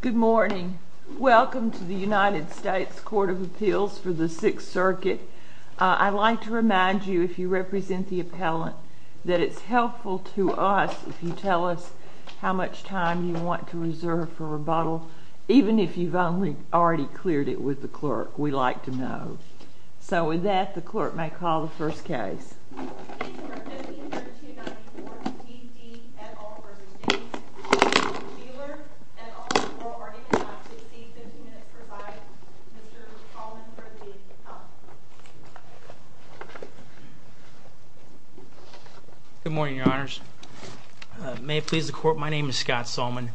Good morning. Welcome to the United States Court of Appeals for the Sixth Circuit. I'd like to remind you, if you represent the appellant, that it's helpful to us if you tell us how much time you want to reserve for rebuttal, even if you've only already cleared it with the clerk. We'd like to know. So with that, the clerk may call the first case. Good morning, Your Honors. May it please the Court, my name is Scott Salmon.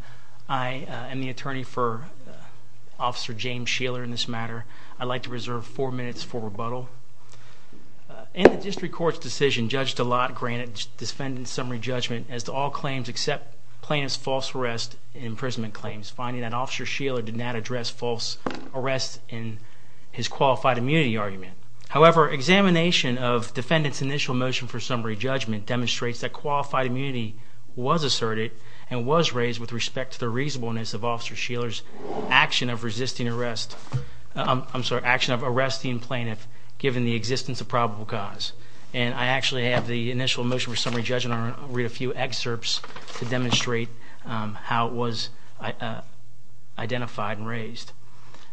I am the attorney for Officer James Scheeler in this matter. I'd like to reserve four minutes for rebuttal. In the district court's decision, Judge DeLotte granted the defendant's summary judgment as to all claims except plaintiff's false arrest and imprisonment claims, finding that Officer Scheeler did not address false arrests in his qualified immunity argument. However, examination of defendant's initial motion for summary judgment demonstrates that qualified immunity was asserted and was raised with respect to the reasonableness of Officer Scheeler's action of arresting plaintiff, given the existence of probable cause, and I actually have the initial motion for summary judgment. I'll read a few excerpts to demonstrate how it was identified and raised.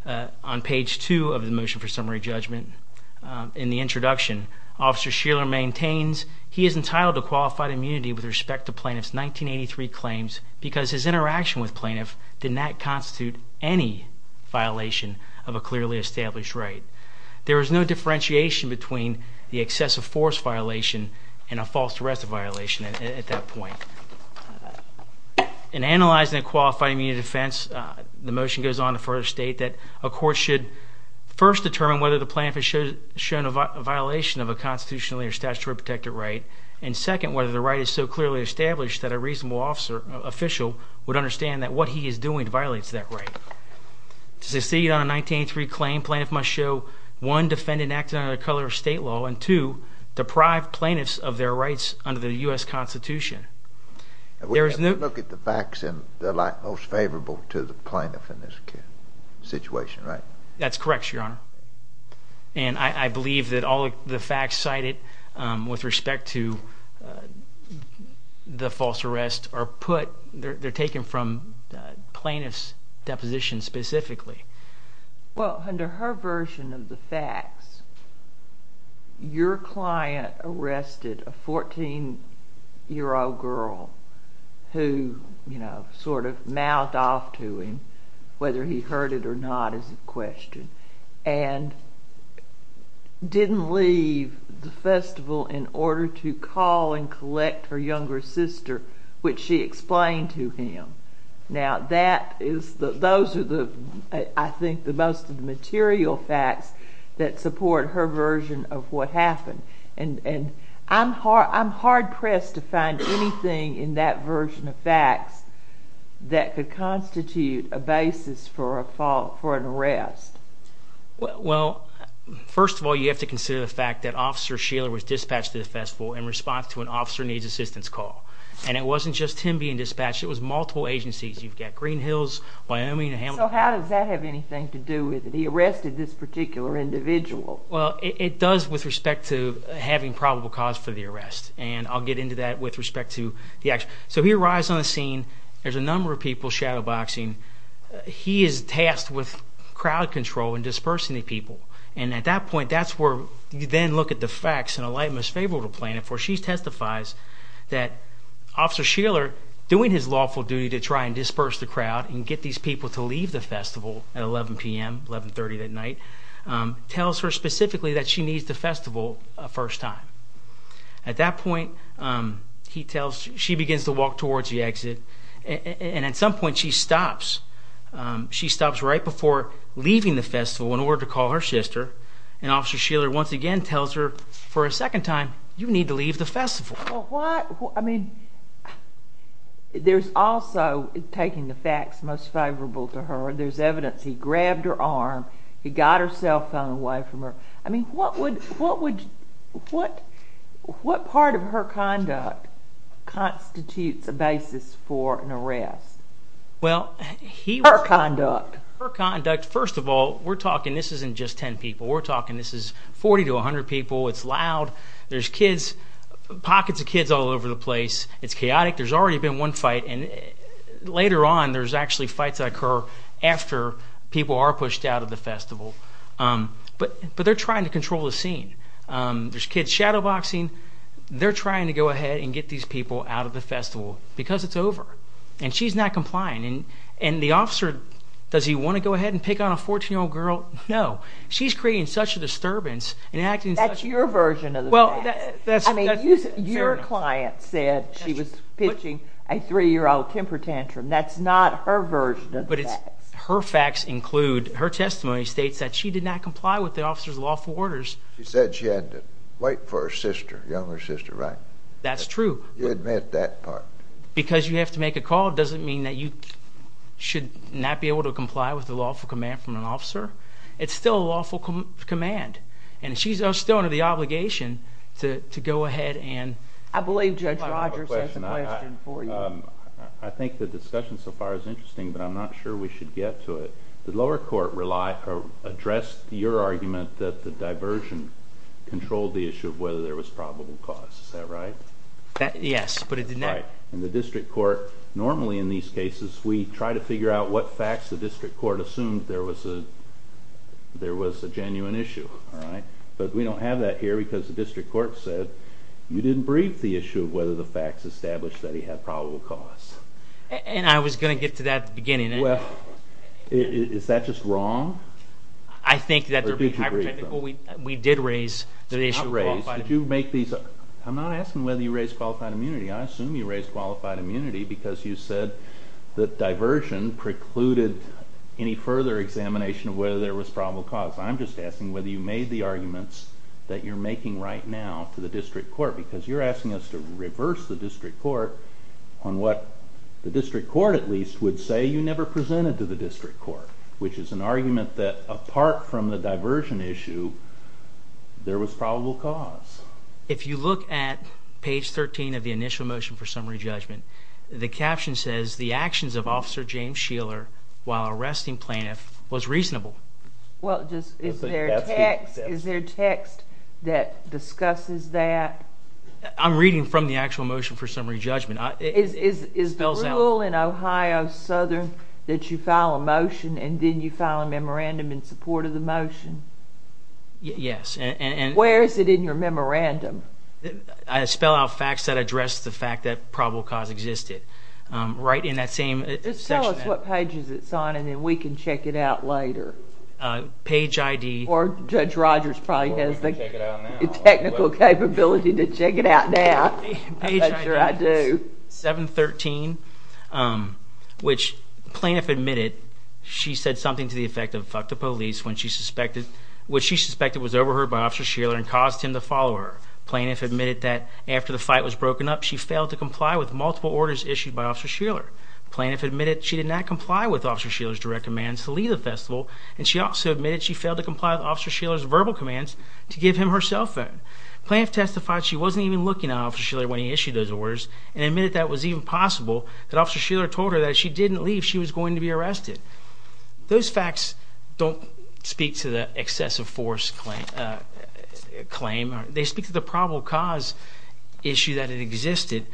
On page two of the motion for summary judgment, in the introduction, Officer Scheeler maintains he is entitled to qualified immunity with respect to plaintiff's 1983 claims because his interaction with plaintiff did not constitute any violation of a clearly established right. There is no differentiation between the excessive force violation and a false arrest violation at that point. In analyzing a qualified immunity defense, the motion goes on to further state that a court should first determine whether the plaintiff has shown a violation of a constitutionally or statutorily protected right, and second, whether the right is so clearly established that a reasonable official would understand that what he is doing violates that right. To succeed on a 1983 claim, plaintiff must show, one, defend an act under the color of state law, and two, deprive plaintiffs of their rights under the U.S. Constitution. We have to look at the facts and the lack most favorable to the plaintiff in this situation, right? That's correct, Your Honor, and I believe that all the facts cited with respect to the false arrest are put, they're taken from plaintiff's deposition specifically. Well, under her version of the facts, your client arrested a 14-year-old girl who, you know, sort of mouthed off to him, whether he heard it or not is the question, and didn't leave the festival in order to call and collect her younger sister, which she explained to him. Now, that is, those are the, I think, the most of the material facts that support her version of what happened, and I'm hard-pressed to find anything in that version of facts that could constitute a basis for an arrest. Well, first of all, you have to consider the fact that Officer Sheeler was dispatched to the festival in response to an officer needs assistance call, and it wasn't just him being dispatched, it was multiple agencies. You've got Greenhills, Wyoming, and Hamilton. So how does that have anything to do with it? He arrested this particular individual. Well, it does with respect to having probable cause for the arrest, and I'll get into that with respect to the actual. So he arrives on the scene. There's a number of people shadowboxing. He is tasked with crowd control and dispersing the people, and at that point, that's where you then look at the facts and a light must favor to plan it for. She testifies that Officer Sheeler, doing his lawful duty to try and disperse the crowd and get these people to leave the festival at 11 p.m., 11.30 that night, tells her specifically that she needs the festival a first time. At that point, he tells, she begins to walk towards the exit, and at some point, she stops. She stops right before leaving the festival in order to call her sister, and Officer Sheeler once again tells her for a second time, you need to leave the festival. Well, what, I mean, there's also, taking the facts most favorable to her, there's evidence he grabbed her arm, he got her cell phone away from her. I mean, what would, what would, what, what part of her conduct constitutes a basis for an arrest? Well, he, her conduct, her conduct, first of all, we're talking, this isn't just 10 people, we're talking, this is 40 to 100 people, it's loud, there's kids, pockets of kids all over the place, it's chaotic, there's already been one fight, and later on, there's actually fights that occur after people are pushed out of the festival, but, but they're trying to control the scene. There's kids shadowboxing, they're trying to go ahead and get these people out of the festival, because it's over, and she's not complying, and, and the officer, does he want to go ahead and pick on a 14-year-old girl? No. She's creating such a disturbance, and acting in such a. That's your version of the facts. Well, that's, that's. I mean, your client said she was pitching a three-year-old temper tantrum, that's not her version of the facts. But it's, her facts include, her testimony states that she did not comply with the officer's lawful orders. She said she had to wait for her sister, younger sister, right? That's true. You admit that part. Because you have to make a call, doesn't mean that you should not be able to comply with the lawful command from an officer. It's still a lawful command, and she's still under the obligation to, to go ahead and. I believe Judge Rogers has a question for you. I think the discussion so far is interesting, but I'm not sure we should get to it. The lower court relied, or addressed your argument that the diversion controlled the issue of whether there was probable cause, is that right? That, yes, but it didn't. Right, and the district court, normally in these cases, we try to figure out what facts the district court assumed there was a, there was a genuine issue, alright? But we don't have that here, because the district court said, you didn't brief the issue of whether the facts established that he had probable cause. And I was going to get to that at the beginning. Well, is that just wrong? I think that, we did raise the issue of qualified immunity. Why did you make these, I'm not asking whether you raised qualified immunity, I assume you raised qualified immunity because you said that diversion precluded any further examination of whether there was probable cause. I'm just asking whether you made the arguments that you're making right now to the district court, because you're asking us to reverse the district court on what the district court, at least, would say you never presented to the district court, which is an argument that apart from the diversion issue, there was probable cause. If you look at page 13 of the initial motion for summary judgment, the caption says, the actions of Officer James Sheeler while arresting plaintiff was reasonable. Well, just, is there a text that discusses that? I'm reading from the actual motion for summary judgment. Is the rule in Ohio Southern that you file a motion and then you file a memorandum in support of the motion? Yes, and... Where is it in your memorandum? I spell out facts that address the fact that probable cause existed. Right in that same section. Just tell us what pages it's on and then we can check it out later. Page ID... Or Judge Rogers probably has the technical capability to check it out now. Page ID, 713, which plaintiff admitted she said something to the effect of, fuck the police, when she suspected, was overheard by Officer Sheeler and caused him to follow her. Plaintiff admitted that after the fight was broken up, she failed to comply with multiple orders issued by Officer Sheeler. Plaintiff admitted she did not comply with Officer Sheeler's direct commands to leave the festival and she also admitted she failed to comply with Officer Sheeler's verbal commands to give him her cell phone. Plaintiff testified she wasn't even looking at Officer Sheeler when he issued those orders and admitted that it was even possible that Officer Sheeler told her that if she didn't leave, she was going to be arrested. Those facts don't speak to the excessive force claim. They speak to the probable cause issue that it existed.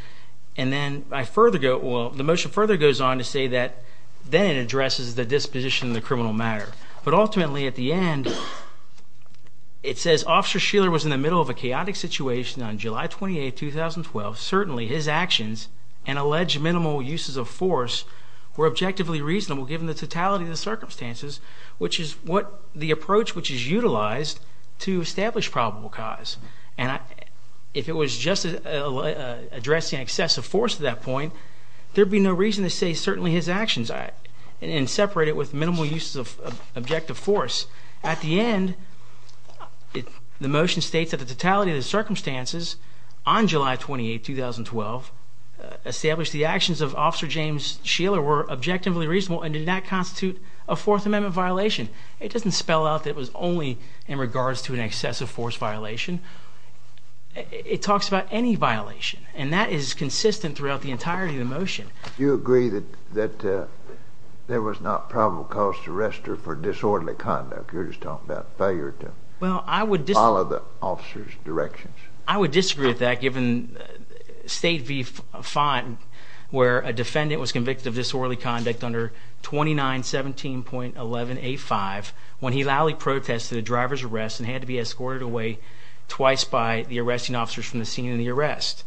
And then I further go, well the motion further goes on to say that then it addresses the disposition of the criminal matter. But ultimately at the end, it says Officer Sheeler was in the middle of a chaotic situation on July 28, 2012. Certainly his actions and alleged minimal uses of force were objectively reasonable given the totality of the circumstances, which is what the approach which is utilized to establish probable cause. And if it was just addressing excessive force at that point, there'd be no reason to say certainly his actions and separate it with minimal uses of objective force. At the end, the motion states that the totality of the circumstances on July 28, 2012, established the actions of Officer James Sheeler were objectively reasonable and did not constitute a Fourth Amendment violation. It doesn't spell out that it was only in regards to an excessive force violation. It talks about any violation, and that is consistent throughout the entirety of the motion. Do you agree that there was not probable cause to arrest her for disorderly conduct? You're just talking about failure to follow the officer's directions. I would disagree with that given State v. Font, where a defendant was convicted of disorderly conduct under 2917.11a5 when he loudly protested a driver's arrest and had to be escorted away twice by the arresting officers from the scene of the arrest.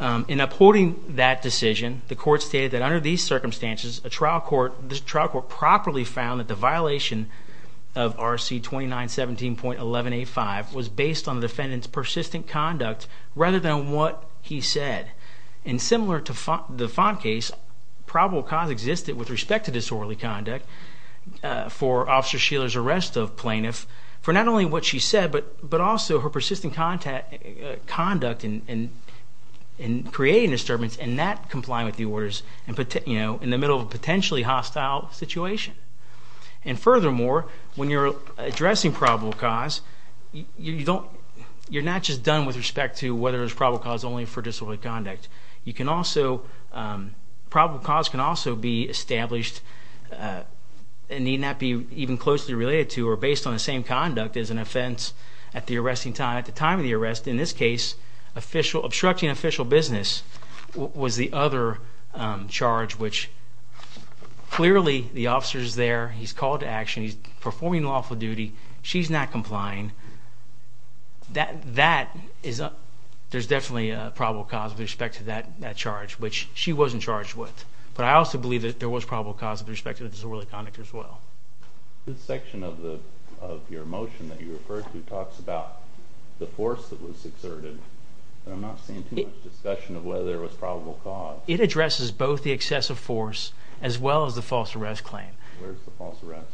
In upholding that decision, the court stated that under these circumstances, the trial court properly found that the violation of RC 2917.11a5 was based on the defendant's persistent conduct rather than what he said. Similar to the Font case, probable cause existed with respect to disorderly conduct for Officer Sheeler's arrest of plaintiffs for not only what she said, but also her persistent conduct in creating disturbance and not complying with the orders in the middle of a potentially hostile situation. And furthermore, when you're addressing probable cause, you're not just done with respect to whether there's probable cause only for disorderly conduct. Probable cause can also be established and need not be even closely related to or based on the same conduct as an offense at the time of the arrest. In this case, obstructing official business was the other charge, which clearly the officer's there, he's called to action, he's performing lawful duty, she's not complying. There's definitely a probable cause with respect to that charge, which she wasn't charged with. But I also believe that there was probable cause with respect to disorderly conduct as well. This section of your motion that you referred to talks about the force that was exerted, but I'm not seeing too much discussion of whether there was probable cause. It addresses both the excessive force as well as the false arrest claim. Where's the false arrest?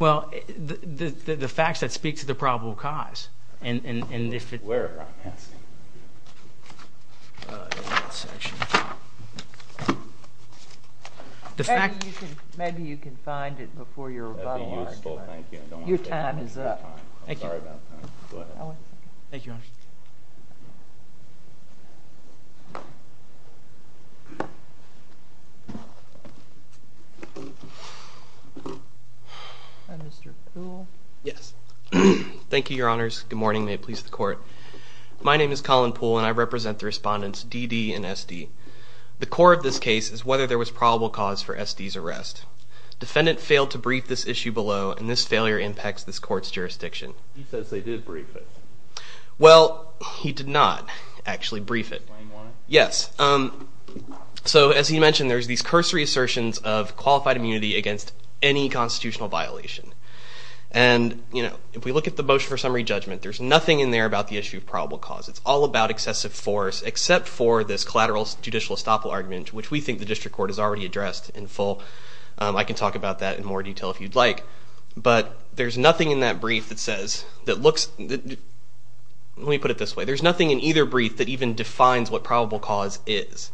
Well, the facts that speak to the probable cause. Where, I'm asking? Maybe you can find it before your rebuttal argument. That'd be useful, thank you. Your time is up. Thank you. Mr. Poole? Yes. Thank you, your honors. Good morning, may it please the court. My name is Colin Poole, and I represent the respondents DD and SD. The core of this case is whether there was probable cause for SD's arrest. Defendant failed to brief this issue below, and this failure impacts this court's jurisdiction. He says they did brief it. Well, he did not actually brief it. Yes. So as he mentioned, there's these cursory assertions of qualified immunity against any constitutional violation. And, you know, if we look at the motion for summary judgment, there's nothing in there about the issue of probable cause. It's all about excessive force, except for this collateral judicial estoppel argument, which we think the district court has already addressed in full. I can talk about that in more detail if you'd like. But there's nothing in that brief that says, that looks, let me put it this way, there's nothing in either brief that even defines what probable cause is.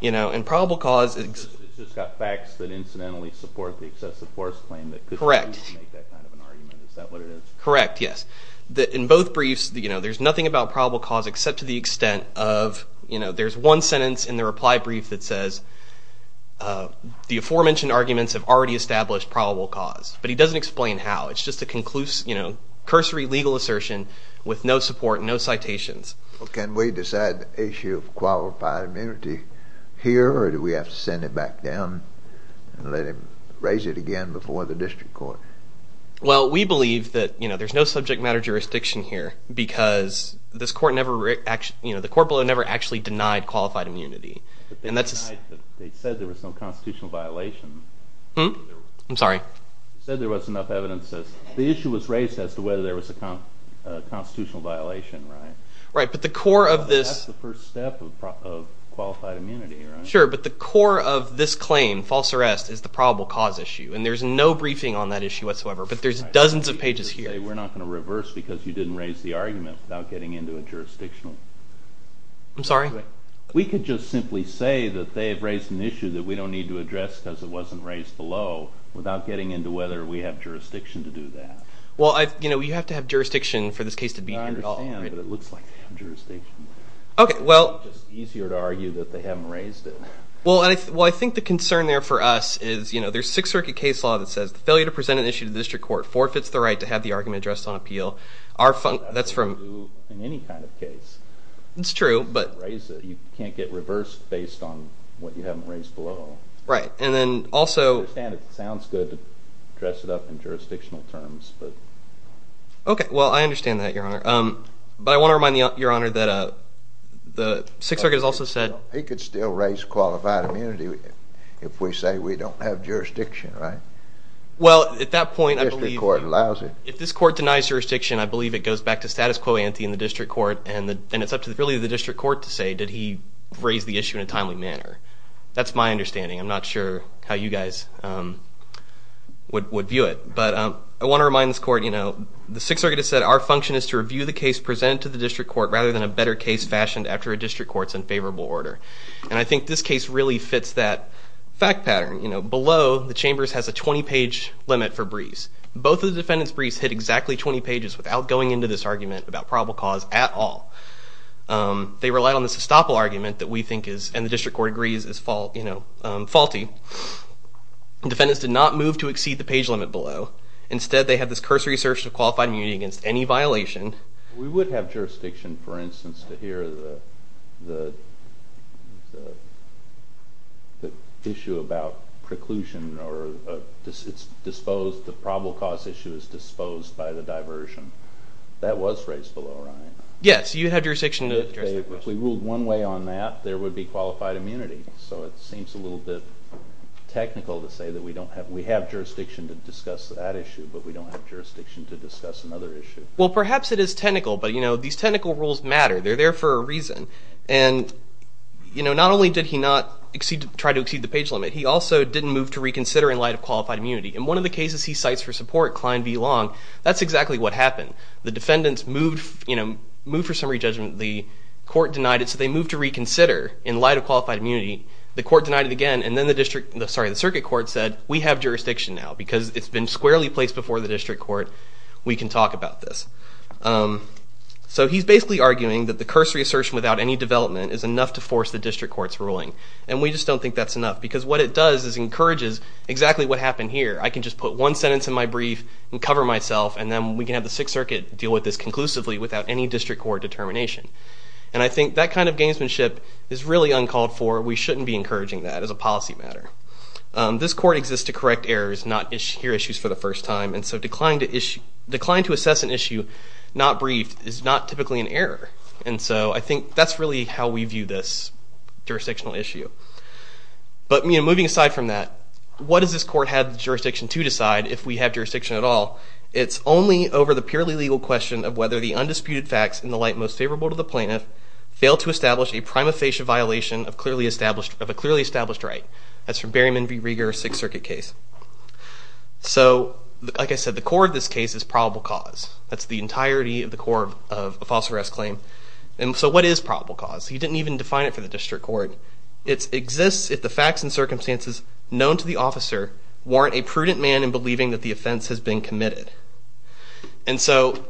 You know, and probable cause... It's just got facts that incidentally support the excessive force claim Correct. Is that what it is? Correct, yes. In both briefs, there's nothing about probable cause except to the extent of, there's one sentence in the reply brief that says the aforementioned arguments have already established probable cause. But he doesn't explain how. It's just a cursory legal assertion with no support, no citations. Can we decide the issue of qualified immunity here, or do we have to send it back down and raise it again before the district court? Well, we believe that, you know, there's no subject matter jurisdiction here because the court never actually denied qualified immunity. They said there was no constitutional violation. I'm sorry? They said there wasn't enough evidence. The issue was raised as to whether there was a constitutional violation, right? Right, but the core of this... That's the first step of qualified immunity, right? Sure, but the core of this claim, false arrest, is the probable cause issue, and there's no briefing on that issue whatsoever, but there's dozens of pages here. We're not going to reverse because you didn't raise the argument without getting into a jurisdictional... I'm sorry? We could just simply say that they have raised an issue that we don't need to address because it wasn't raised below without getting into whether we have jurisdiction to do that. Well, you have to have jurisdiction for this case to be... I understand, but it looks like they have jurisdiction. Okay, well... It's just easier to argue that they haven't raised it. Well, I think the concern there for us is there's Sixth Circuit case law that says failure to present an issue to the district court forfeits the right to have the argument addressed on appeal. That's from... In any kind of case. It's true, but... You can't get reversed based on what you haven't raised below. Right, and then also... I understand it sounds good to dress it up in jurisdictional terms, but... Okay, well, I understand that, Your Honor. But I want to remind Your Honor that the Sixth Circuit has also said... He could still raise qualified immunity if we say we don't have jurisdiction, right? Well, at that point, I believe... If this court denies jurisdiction, I believe it goes back to status quo ante in the district court and it's up to really the district court to say did he raise the issue in a timely manner. That's my understanding. I'm not sure how you guys would view it, but I want to remind this court, you know, the Sixth Circuit has said our function is to review the case presented to the district court rather than a better case fashioned after a district court's unfavorable order. And I think this case really fits that fact pattern. You know, below the Chambers has a 20-page limit for Brees. Both of the defendants' Brees hit exactly 20 pages without going into this argument about probable cause at all. They relied on this estoppel argument that we think is, and the district court agrees is, you know, faulty. The defendants did not move to exceed the page limit below. Instead they had this cursory search of qualified immunity against any violation. We would have jurisdiction, for instance, to hear the the the issue about preclusion or it's disposed the probable cause issue is disposed by the diversion. That was raised below, right? Yes, you have jurisdiction to address that question. If we ruled one way on that there would be qualified immunity. So it seems a little bit technical to say that we don't have, we have jurisdiction to discuss that issue, but we don't have jurisdiction to discuss another issue. Well, perhaps it is technical, but you know, these technical rules matter. They're there for a reason. And, you know, not only did he not try to exceed the page limit, he also didn't move to reconsider in light of qualified immunity. In one of the cases he cites for support, Klein v. Long, that's exactly what happened. The defendants moved you know, moved for summary judgment. The court denied it, so they moved to reconsider in light of qualified immunity. The court denied it again, and then the district, sorry, the circuit court said, we have jurisdiction now. Because it's been squarely placed before the district court, we can talk about this. So he's basically arguing that the cursory assertion without any development is enough to force the district court's ruling. And we just don't think that's enough, because what it does is encourages exactly what happened here. I can just put one sentence in my brief and cover myself, and then we can have the Sixth Circuit deal with this conclusively without any district court determination. And I think that kind of gamesmanship is really uncalled for. We shouldn't be encouraging that as a policy matter. This court exists to correct errors, not hear issues for the first time, and so declining to assess an issue not briefed is not typically an error. And so I think that's really how we view this jurisdictional issue. But, you know, moving aside from that, what does this court have jurisdiction to decide if we have jurisdiction at all? It's only over the purely legal question of whether the undisputed facts in the light most favorable to the plaintiff fail to establish a prima facie violation of a clearly established right. That's from Berryman v. Rieger, Sixth Circuit case. So, like I said, the core of this case is probable cause. That's the entirety of the core of a false arrest claim. And so what is probable cause? He didn't even define it for the district court. It exists if the facts and circumstances known to the officer warrant a prudent man in believing that the offense has been committed. And so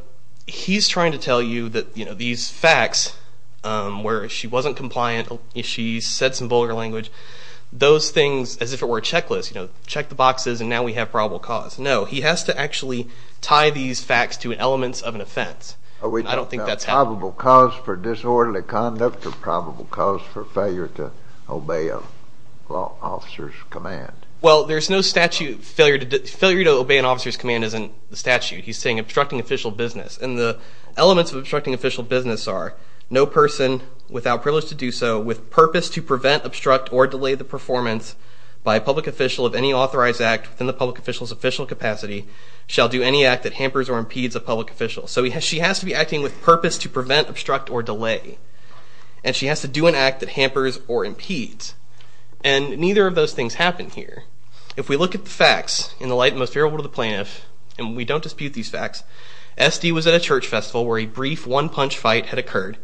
he's trying to tell you that, you know, these facts where she wasn't compliant, she said some vulgar language, those things, as if it were a checklist, you know, check the boxes and now we have probable cause. No, he has to actually tie these facts to elements of an offense. I don't think that's happening. Are we talking about probable cause for disorderly conduct or probable cause for failure to obey a law officer's command? Well, there's no statute failure to obey an officer's command isn't the statute. He's saying obstructing official business. And the elements of obstructing official business are no person without privilege to do so with purpose to prevent, obstruct, or delay the performance by a public official of any authorized act within the public official's official capacity shall do any act that hampers or impedes a public official. So she has to be acting with purpose to prevent, obstruct, or delay. And she has to do an act that hampers or impedes. And neither of those things happen here. If we look at the facts in the light most favorable to the plaintiff and we don't dispute these facts, SD was at a church festival where a brief one-punch fight had occurred.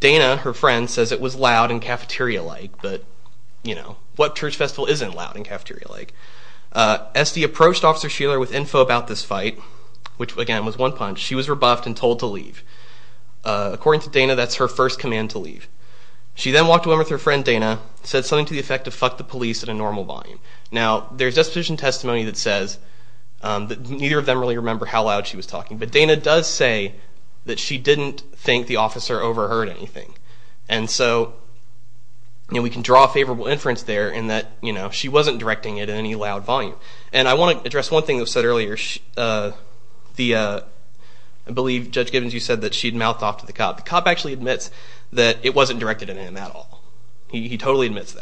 Dana, her friend, says it was loud and cafeteria-like. But, you know, what church festival isn't loud and cafeteria-like? SD approached Officer Sheeler with info about this fight which, again, was one-punch. She was rebuffed and told to leave. According to Dana, that's her first command to leave. She then walked away with her friend, Dana, said something to the effect of fuck the police at a normal volume. Now, there's disposition testimony that says that neither of them really remember how loud she was talking. But Dana does say that she didn't think the officer overheard anything. And so, you know, we can draw a favorable inference there in that, you know, she wasn't directing it in any loud volume. And I want to address one thing that was said earlier. The, uh, I believe Judge Gibbons, you said that she had mouthed off to the cop. The cop actually admits that it wasn't directed at him at all. He totally admits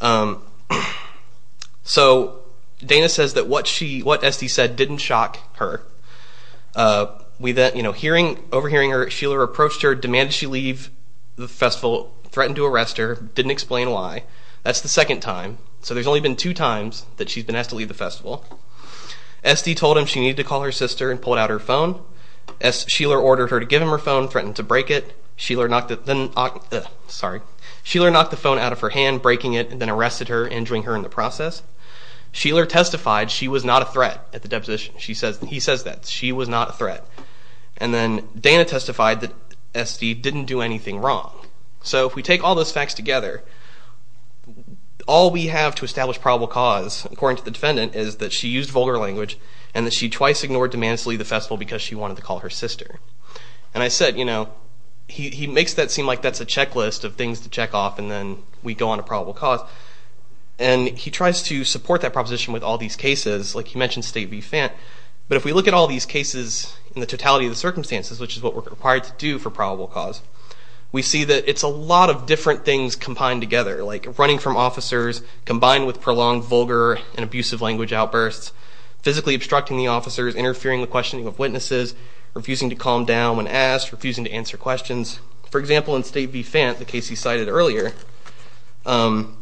that. So, Dana says that what SD said didn't shock her. We then, you know, overhearing Sheeler approached her, demanded she leave the festival, threatened to arrest her, didn't explain why. That's the second time. So there's only been two times that she's been asked to leave the festival. SD told him she needed to call her sister and pulled out her phone. Sheeler ordered her to give him her phone, threatened to break it. Sheeler knocked the phone out of her hand, breaking it, and then arrested her, injuring her in the process. Sheeler testified she was not a threat at the deposition. He says that. She was not a threat. And then Dana testified that SD didn't do anything wrong. So if we take all those facts together, all we have to establish probable cause, according to the defendant, is that she used vulgar language and that she wanted to call her sister. And I said, you know, he makes that seem like that's a checklist of things to check off and then we go on to probable cause. And he tries to support that proposition with all these cases, like he mentioned State v. Fent. But if we look at all these cases in the totality of the circumstances, which is what we're required to do for probable cause, we see that it's a lot of different things combined together. Like running from officers, combined with prolonged vulgar and abusive language outbursts, physically obstructing the officers, interfering the questioning of witnesses, refusing to calm down when asked, refusing to answer questions. For example, in State v. Fent, the case he cited earlier, What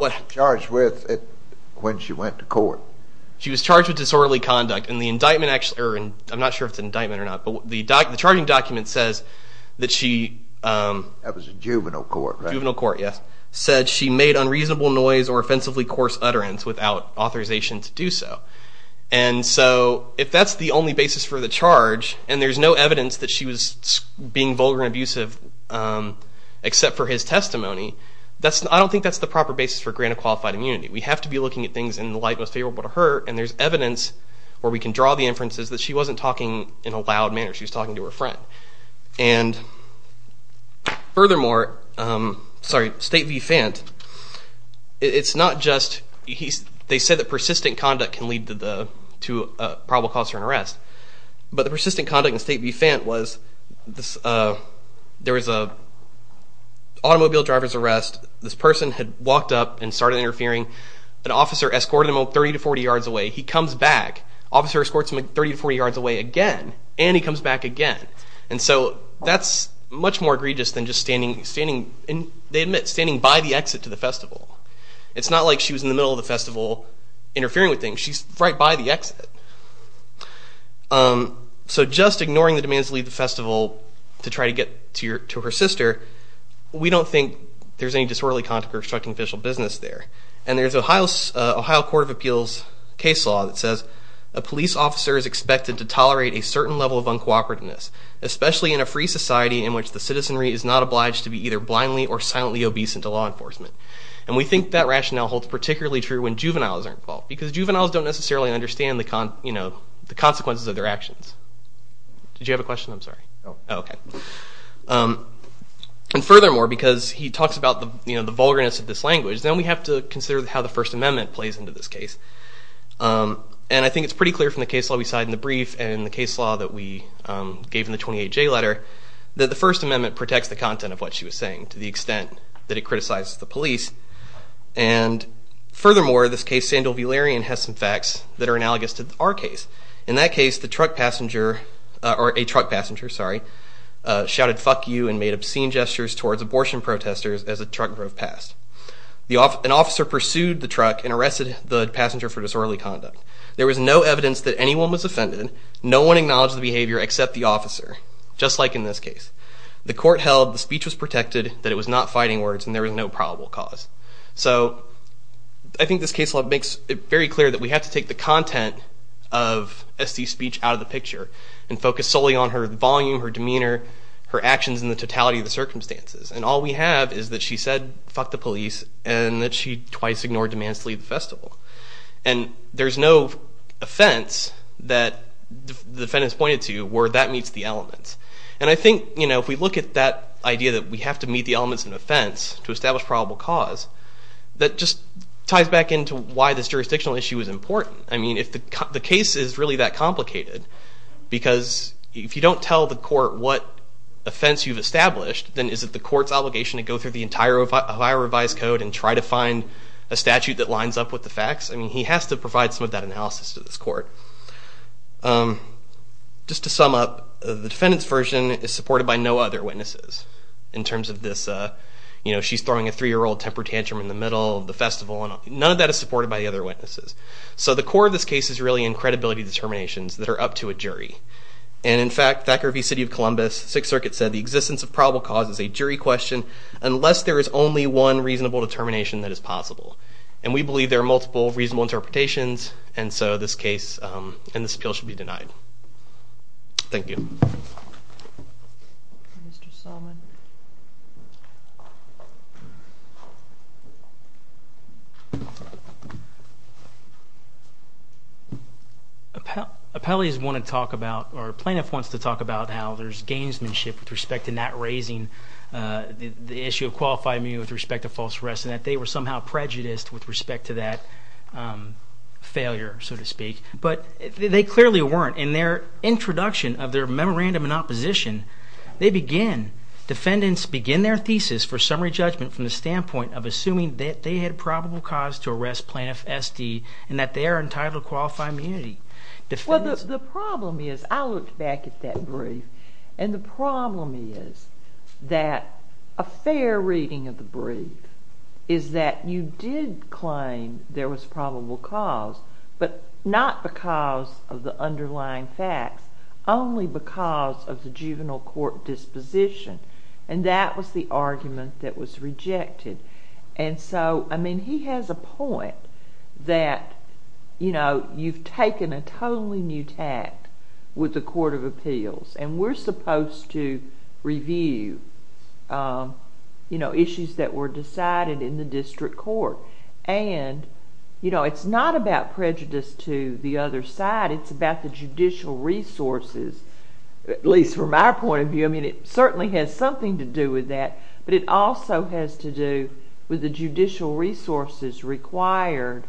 was she charged with when she went to court? She was charged with disorderly conduct. And the indictment actually, I'm not sure if it's an indictment or not, but the charging document says that she That was a juvenile court, right? Juvenile court, yes. Said she made unreasonable noise or offensively coarse utterance without authorization to do so. And so, if that's the only basis for the charge, and there's no evidence that she was being vulgar and abusive except for his testimony, I don't think that's the proper basis for granted qualified immunity. We have to be looking at things in the light most favorable to her, and there's evidence where we can draw the inferences that she wasn't talking in a loud manner. She was talking to her friend. And furthermore, sorry, State v. Fent, it's not just they said that persistent conduct can lead to a probable cause for an arrest, but the persistent conduct in State v. Fent was there was a automobile driver's arrest. This person had walked up and started interfering. An officer escorted him 30 to 40 yards away. He comes back. Officer escorts him 30 to 40 yards away again, and he comes back again. And so, that's much more egregious than just standing by the exit to the festival. It's not like she was in the middle of the festival interfering with things. She's right by the exit. So, just ignoring the demands to leave the festival to try to get to her sister, we don't think there's any disorderly conduct or obstructing official business there. And there's Ohio Court of Appeals case law that says, a police officer is expected to tolerate a certain level of uncooperativeness, especially in a free society in which the citizenry is not obliged to be either blindly or silently obeisant to law enforcement. And we think that rationale holds particularly true when juveniles are involved. Because juveniles don't necessarily understand the consequences of their actions. Did you have a question? I'm sorry. Oh, okay. And furthermore, because he talks about the vulgarness of this language, then we have to consider how the First Amendment plays into this case. And I think it's pretty clear from the case law we saw in the brief and the case law that we gave in the 28J letter that the First Amendment protects the content of what she was saying, to the extent that it criticizes the police. And furthermore, this case, Sandal v. Larian, has some facts that are analogous to our case. In that case, the truck passenger, or a truck passenger, sorry, shouted, fuck you and made obscene gestures towards abortion protesters as a truck drove past. An officer pursued the truck and arrested the passenger for disorderly conduct. There was no evidence that anyone was offended. No one acknowledged the behavior except the officer, just like in this case. The court held the speech was protected, that it was not fighting words, and there was no probable cause. So, I think this case law makes it very clear that we have to take the content of S.C.'s speech out of the picture and focus solely on her volume, her demeanor, her actions in the totality of the circumstances. And all we have is that she said, fuck the police, and that she twice ignored demands to leave the festival. And there's no offense that the defendants pointed to where that meets the elements. And I think, you know, if we look at that idea that we have to meet the elements of an offense to establish probable cause, that just ties back into why this jurisdictional issue is important. I mean, if the case is really that complicated, because if you don't tell the court what offense you've established, then is it the court's obligation to go through the entire revised code and try to find I mean, he has to provide some of that analysis to this court. Just to sum up, the defendant's version is supported by no other witnesses in terms of this, you know, she's throwing a three-year-old temper tantrum in the middle of the festival, none of that is supported by the other witnesses. So the core of this case is really in credibility determinations that are up to a jury. And in fact, Thackeray v. City of Columbus, Sixth Circuit said, the existence of probable cause is a jury question unless there is only one reasonable determination that is possible. And we believe there are multiple reasonable interpretations, and so this case and this appeal should be denied. Thank you. Appellees want to talk about or a plaintiff wants to talk about how there's gamesmanship with respect to not raising the issue of qualified immunity with respect to false arrest, and that they were somehow prejudiced with respect to that failure, so to speak, but they clearly weren't. In their introduction of their memorandum in opposition, they begin, defendants begin their thesis for summary judgment from the standpoint of assuming that they had probable cause to arrest Plaintiff S.D. and that they are entitled to qualified immunity. Well, the problem is, I looked back at that brief, and the problem is that a fair reading of the brief is that you did claim there was probable cause, but not because of the underlying facts, only because of the juvenile court disposition, and that was the argument that was rejected. And so, I mean, he has a point that, you know, you've taken a totally new tact with the Court of Appeals, and we're supposed to review issues that were brought to the court, and you know, it's not about prejudice to the other side, it's about the judicial resources, at least from our point of view, I mean, it certainly has something to do with that, but it also has to do with the judicial resources required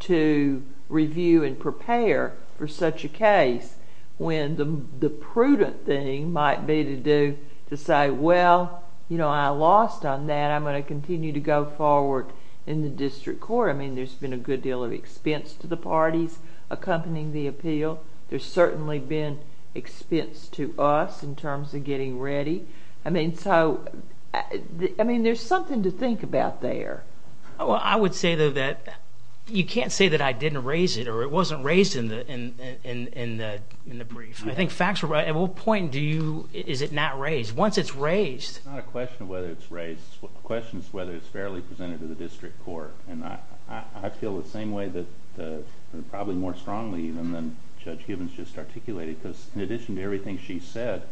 to review and prepare for such a case, when the prudent thing might be to do, to say, well, you know, I lost on that, and I'm going to continue to go forward in the district court, I mean, there's been a good deal of expense to the parties accompanying the appeal, there's certainly been expense to us, in terms of getting ready, I mean, so, I mean, there's something to think about there. Well, I would say though that you can't say that I didn't raise it, or it wasn't raised in the in the brief, I think facts were right, at what point do you, is it not raised? Once it's raised, it's not a question of whether it's raised, the question is whether it's fairly presented to the district court, and I feel the same way that, probably more strongly even than Judge Gibbons just articulated, because in addition to everything she said,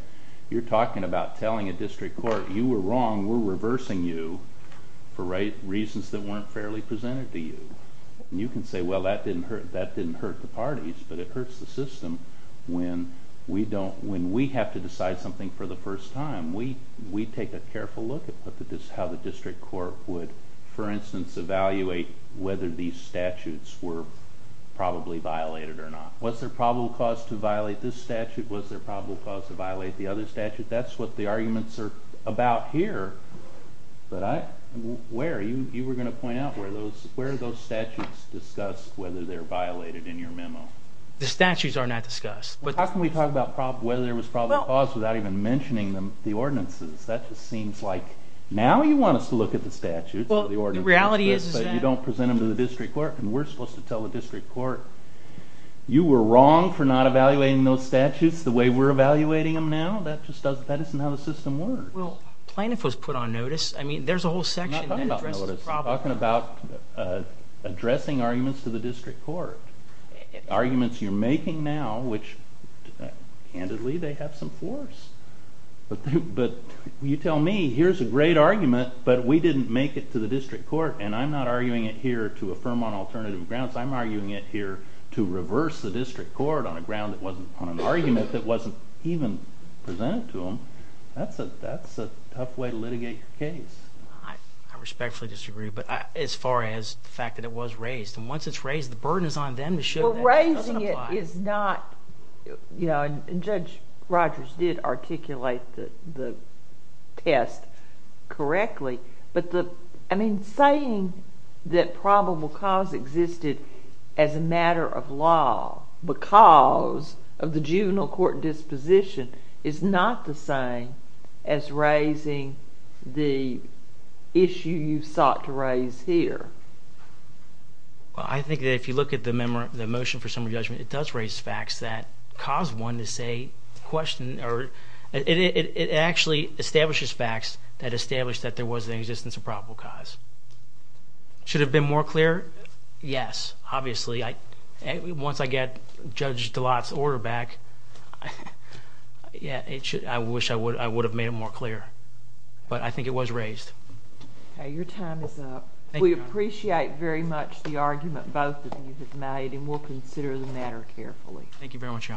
you're talking about telling a district court, you were wrong, we're reversing you, for reasons that weren't fairly presented to you, and you can say, well, that didn't hurt the parties, but it hurts the system, when we don't, when we have to decide something for the first time, we take a careful look at how the district court would, for instance, evaluate whether these statutes were probably violated or not. Was there probable cause to violate this statute? Was there probable cause to violate the other statute? That's what the arguments are about here, but I, where? You were going to point out where those statutes discuss whether they're violated in your memo. The statutes are not discussed. How can we talk about whether there was probable cause without even mentioning the ordinances? That just seems like, now you want us to look at the statutes, the ordinances, but you don't present them to the district court, and we're supposed to tell the district court, you were wrong for not evaluating those statutes the way we're evaluating them now, that just doesn't, that isn't how the system works. Well, plaintiff was put on notice, I mean, there's a whole section that addresses the problem. You're talking about addressing arguments to the district court. Arguments you're making now, which, candidly, they have some force, but you tell me, here's a great argument, but we didn't make it to the district court, and I'm not arguing it here to affirm on alternative grounds, I'm arguing it here to reverse the district court on a ground that wasn't, on an argument that wasn't even presented to them. That's a tough way to litigate your case. I respectfully disagree, but as far as the fact that it was raised, and once it's raised, the burden is on them to show that it doesn't apply. You know, and Judge Rogers did articulate the test correctly, but the, I mean, saying that probable cause existed as a matter of law because of the juvenile court disposition is not the same as raising the issue you sought to raise here. Well, I think that if you look at the motion for summary judgment, it does raise facts that cause one to say, question, or it actually establishes facts that establish that there was an existence of probable cause. Should it have been more clear? Yes, obviously. Once I get Judge DeLotte's order back, yeah, it should, I wish I would have made it more clear, but I think it was raised. Okay, your time is up. We appreciate very much the argument both of you have made, and we'll consider the matter carefully. Thank you very much, Your Honor.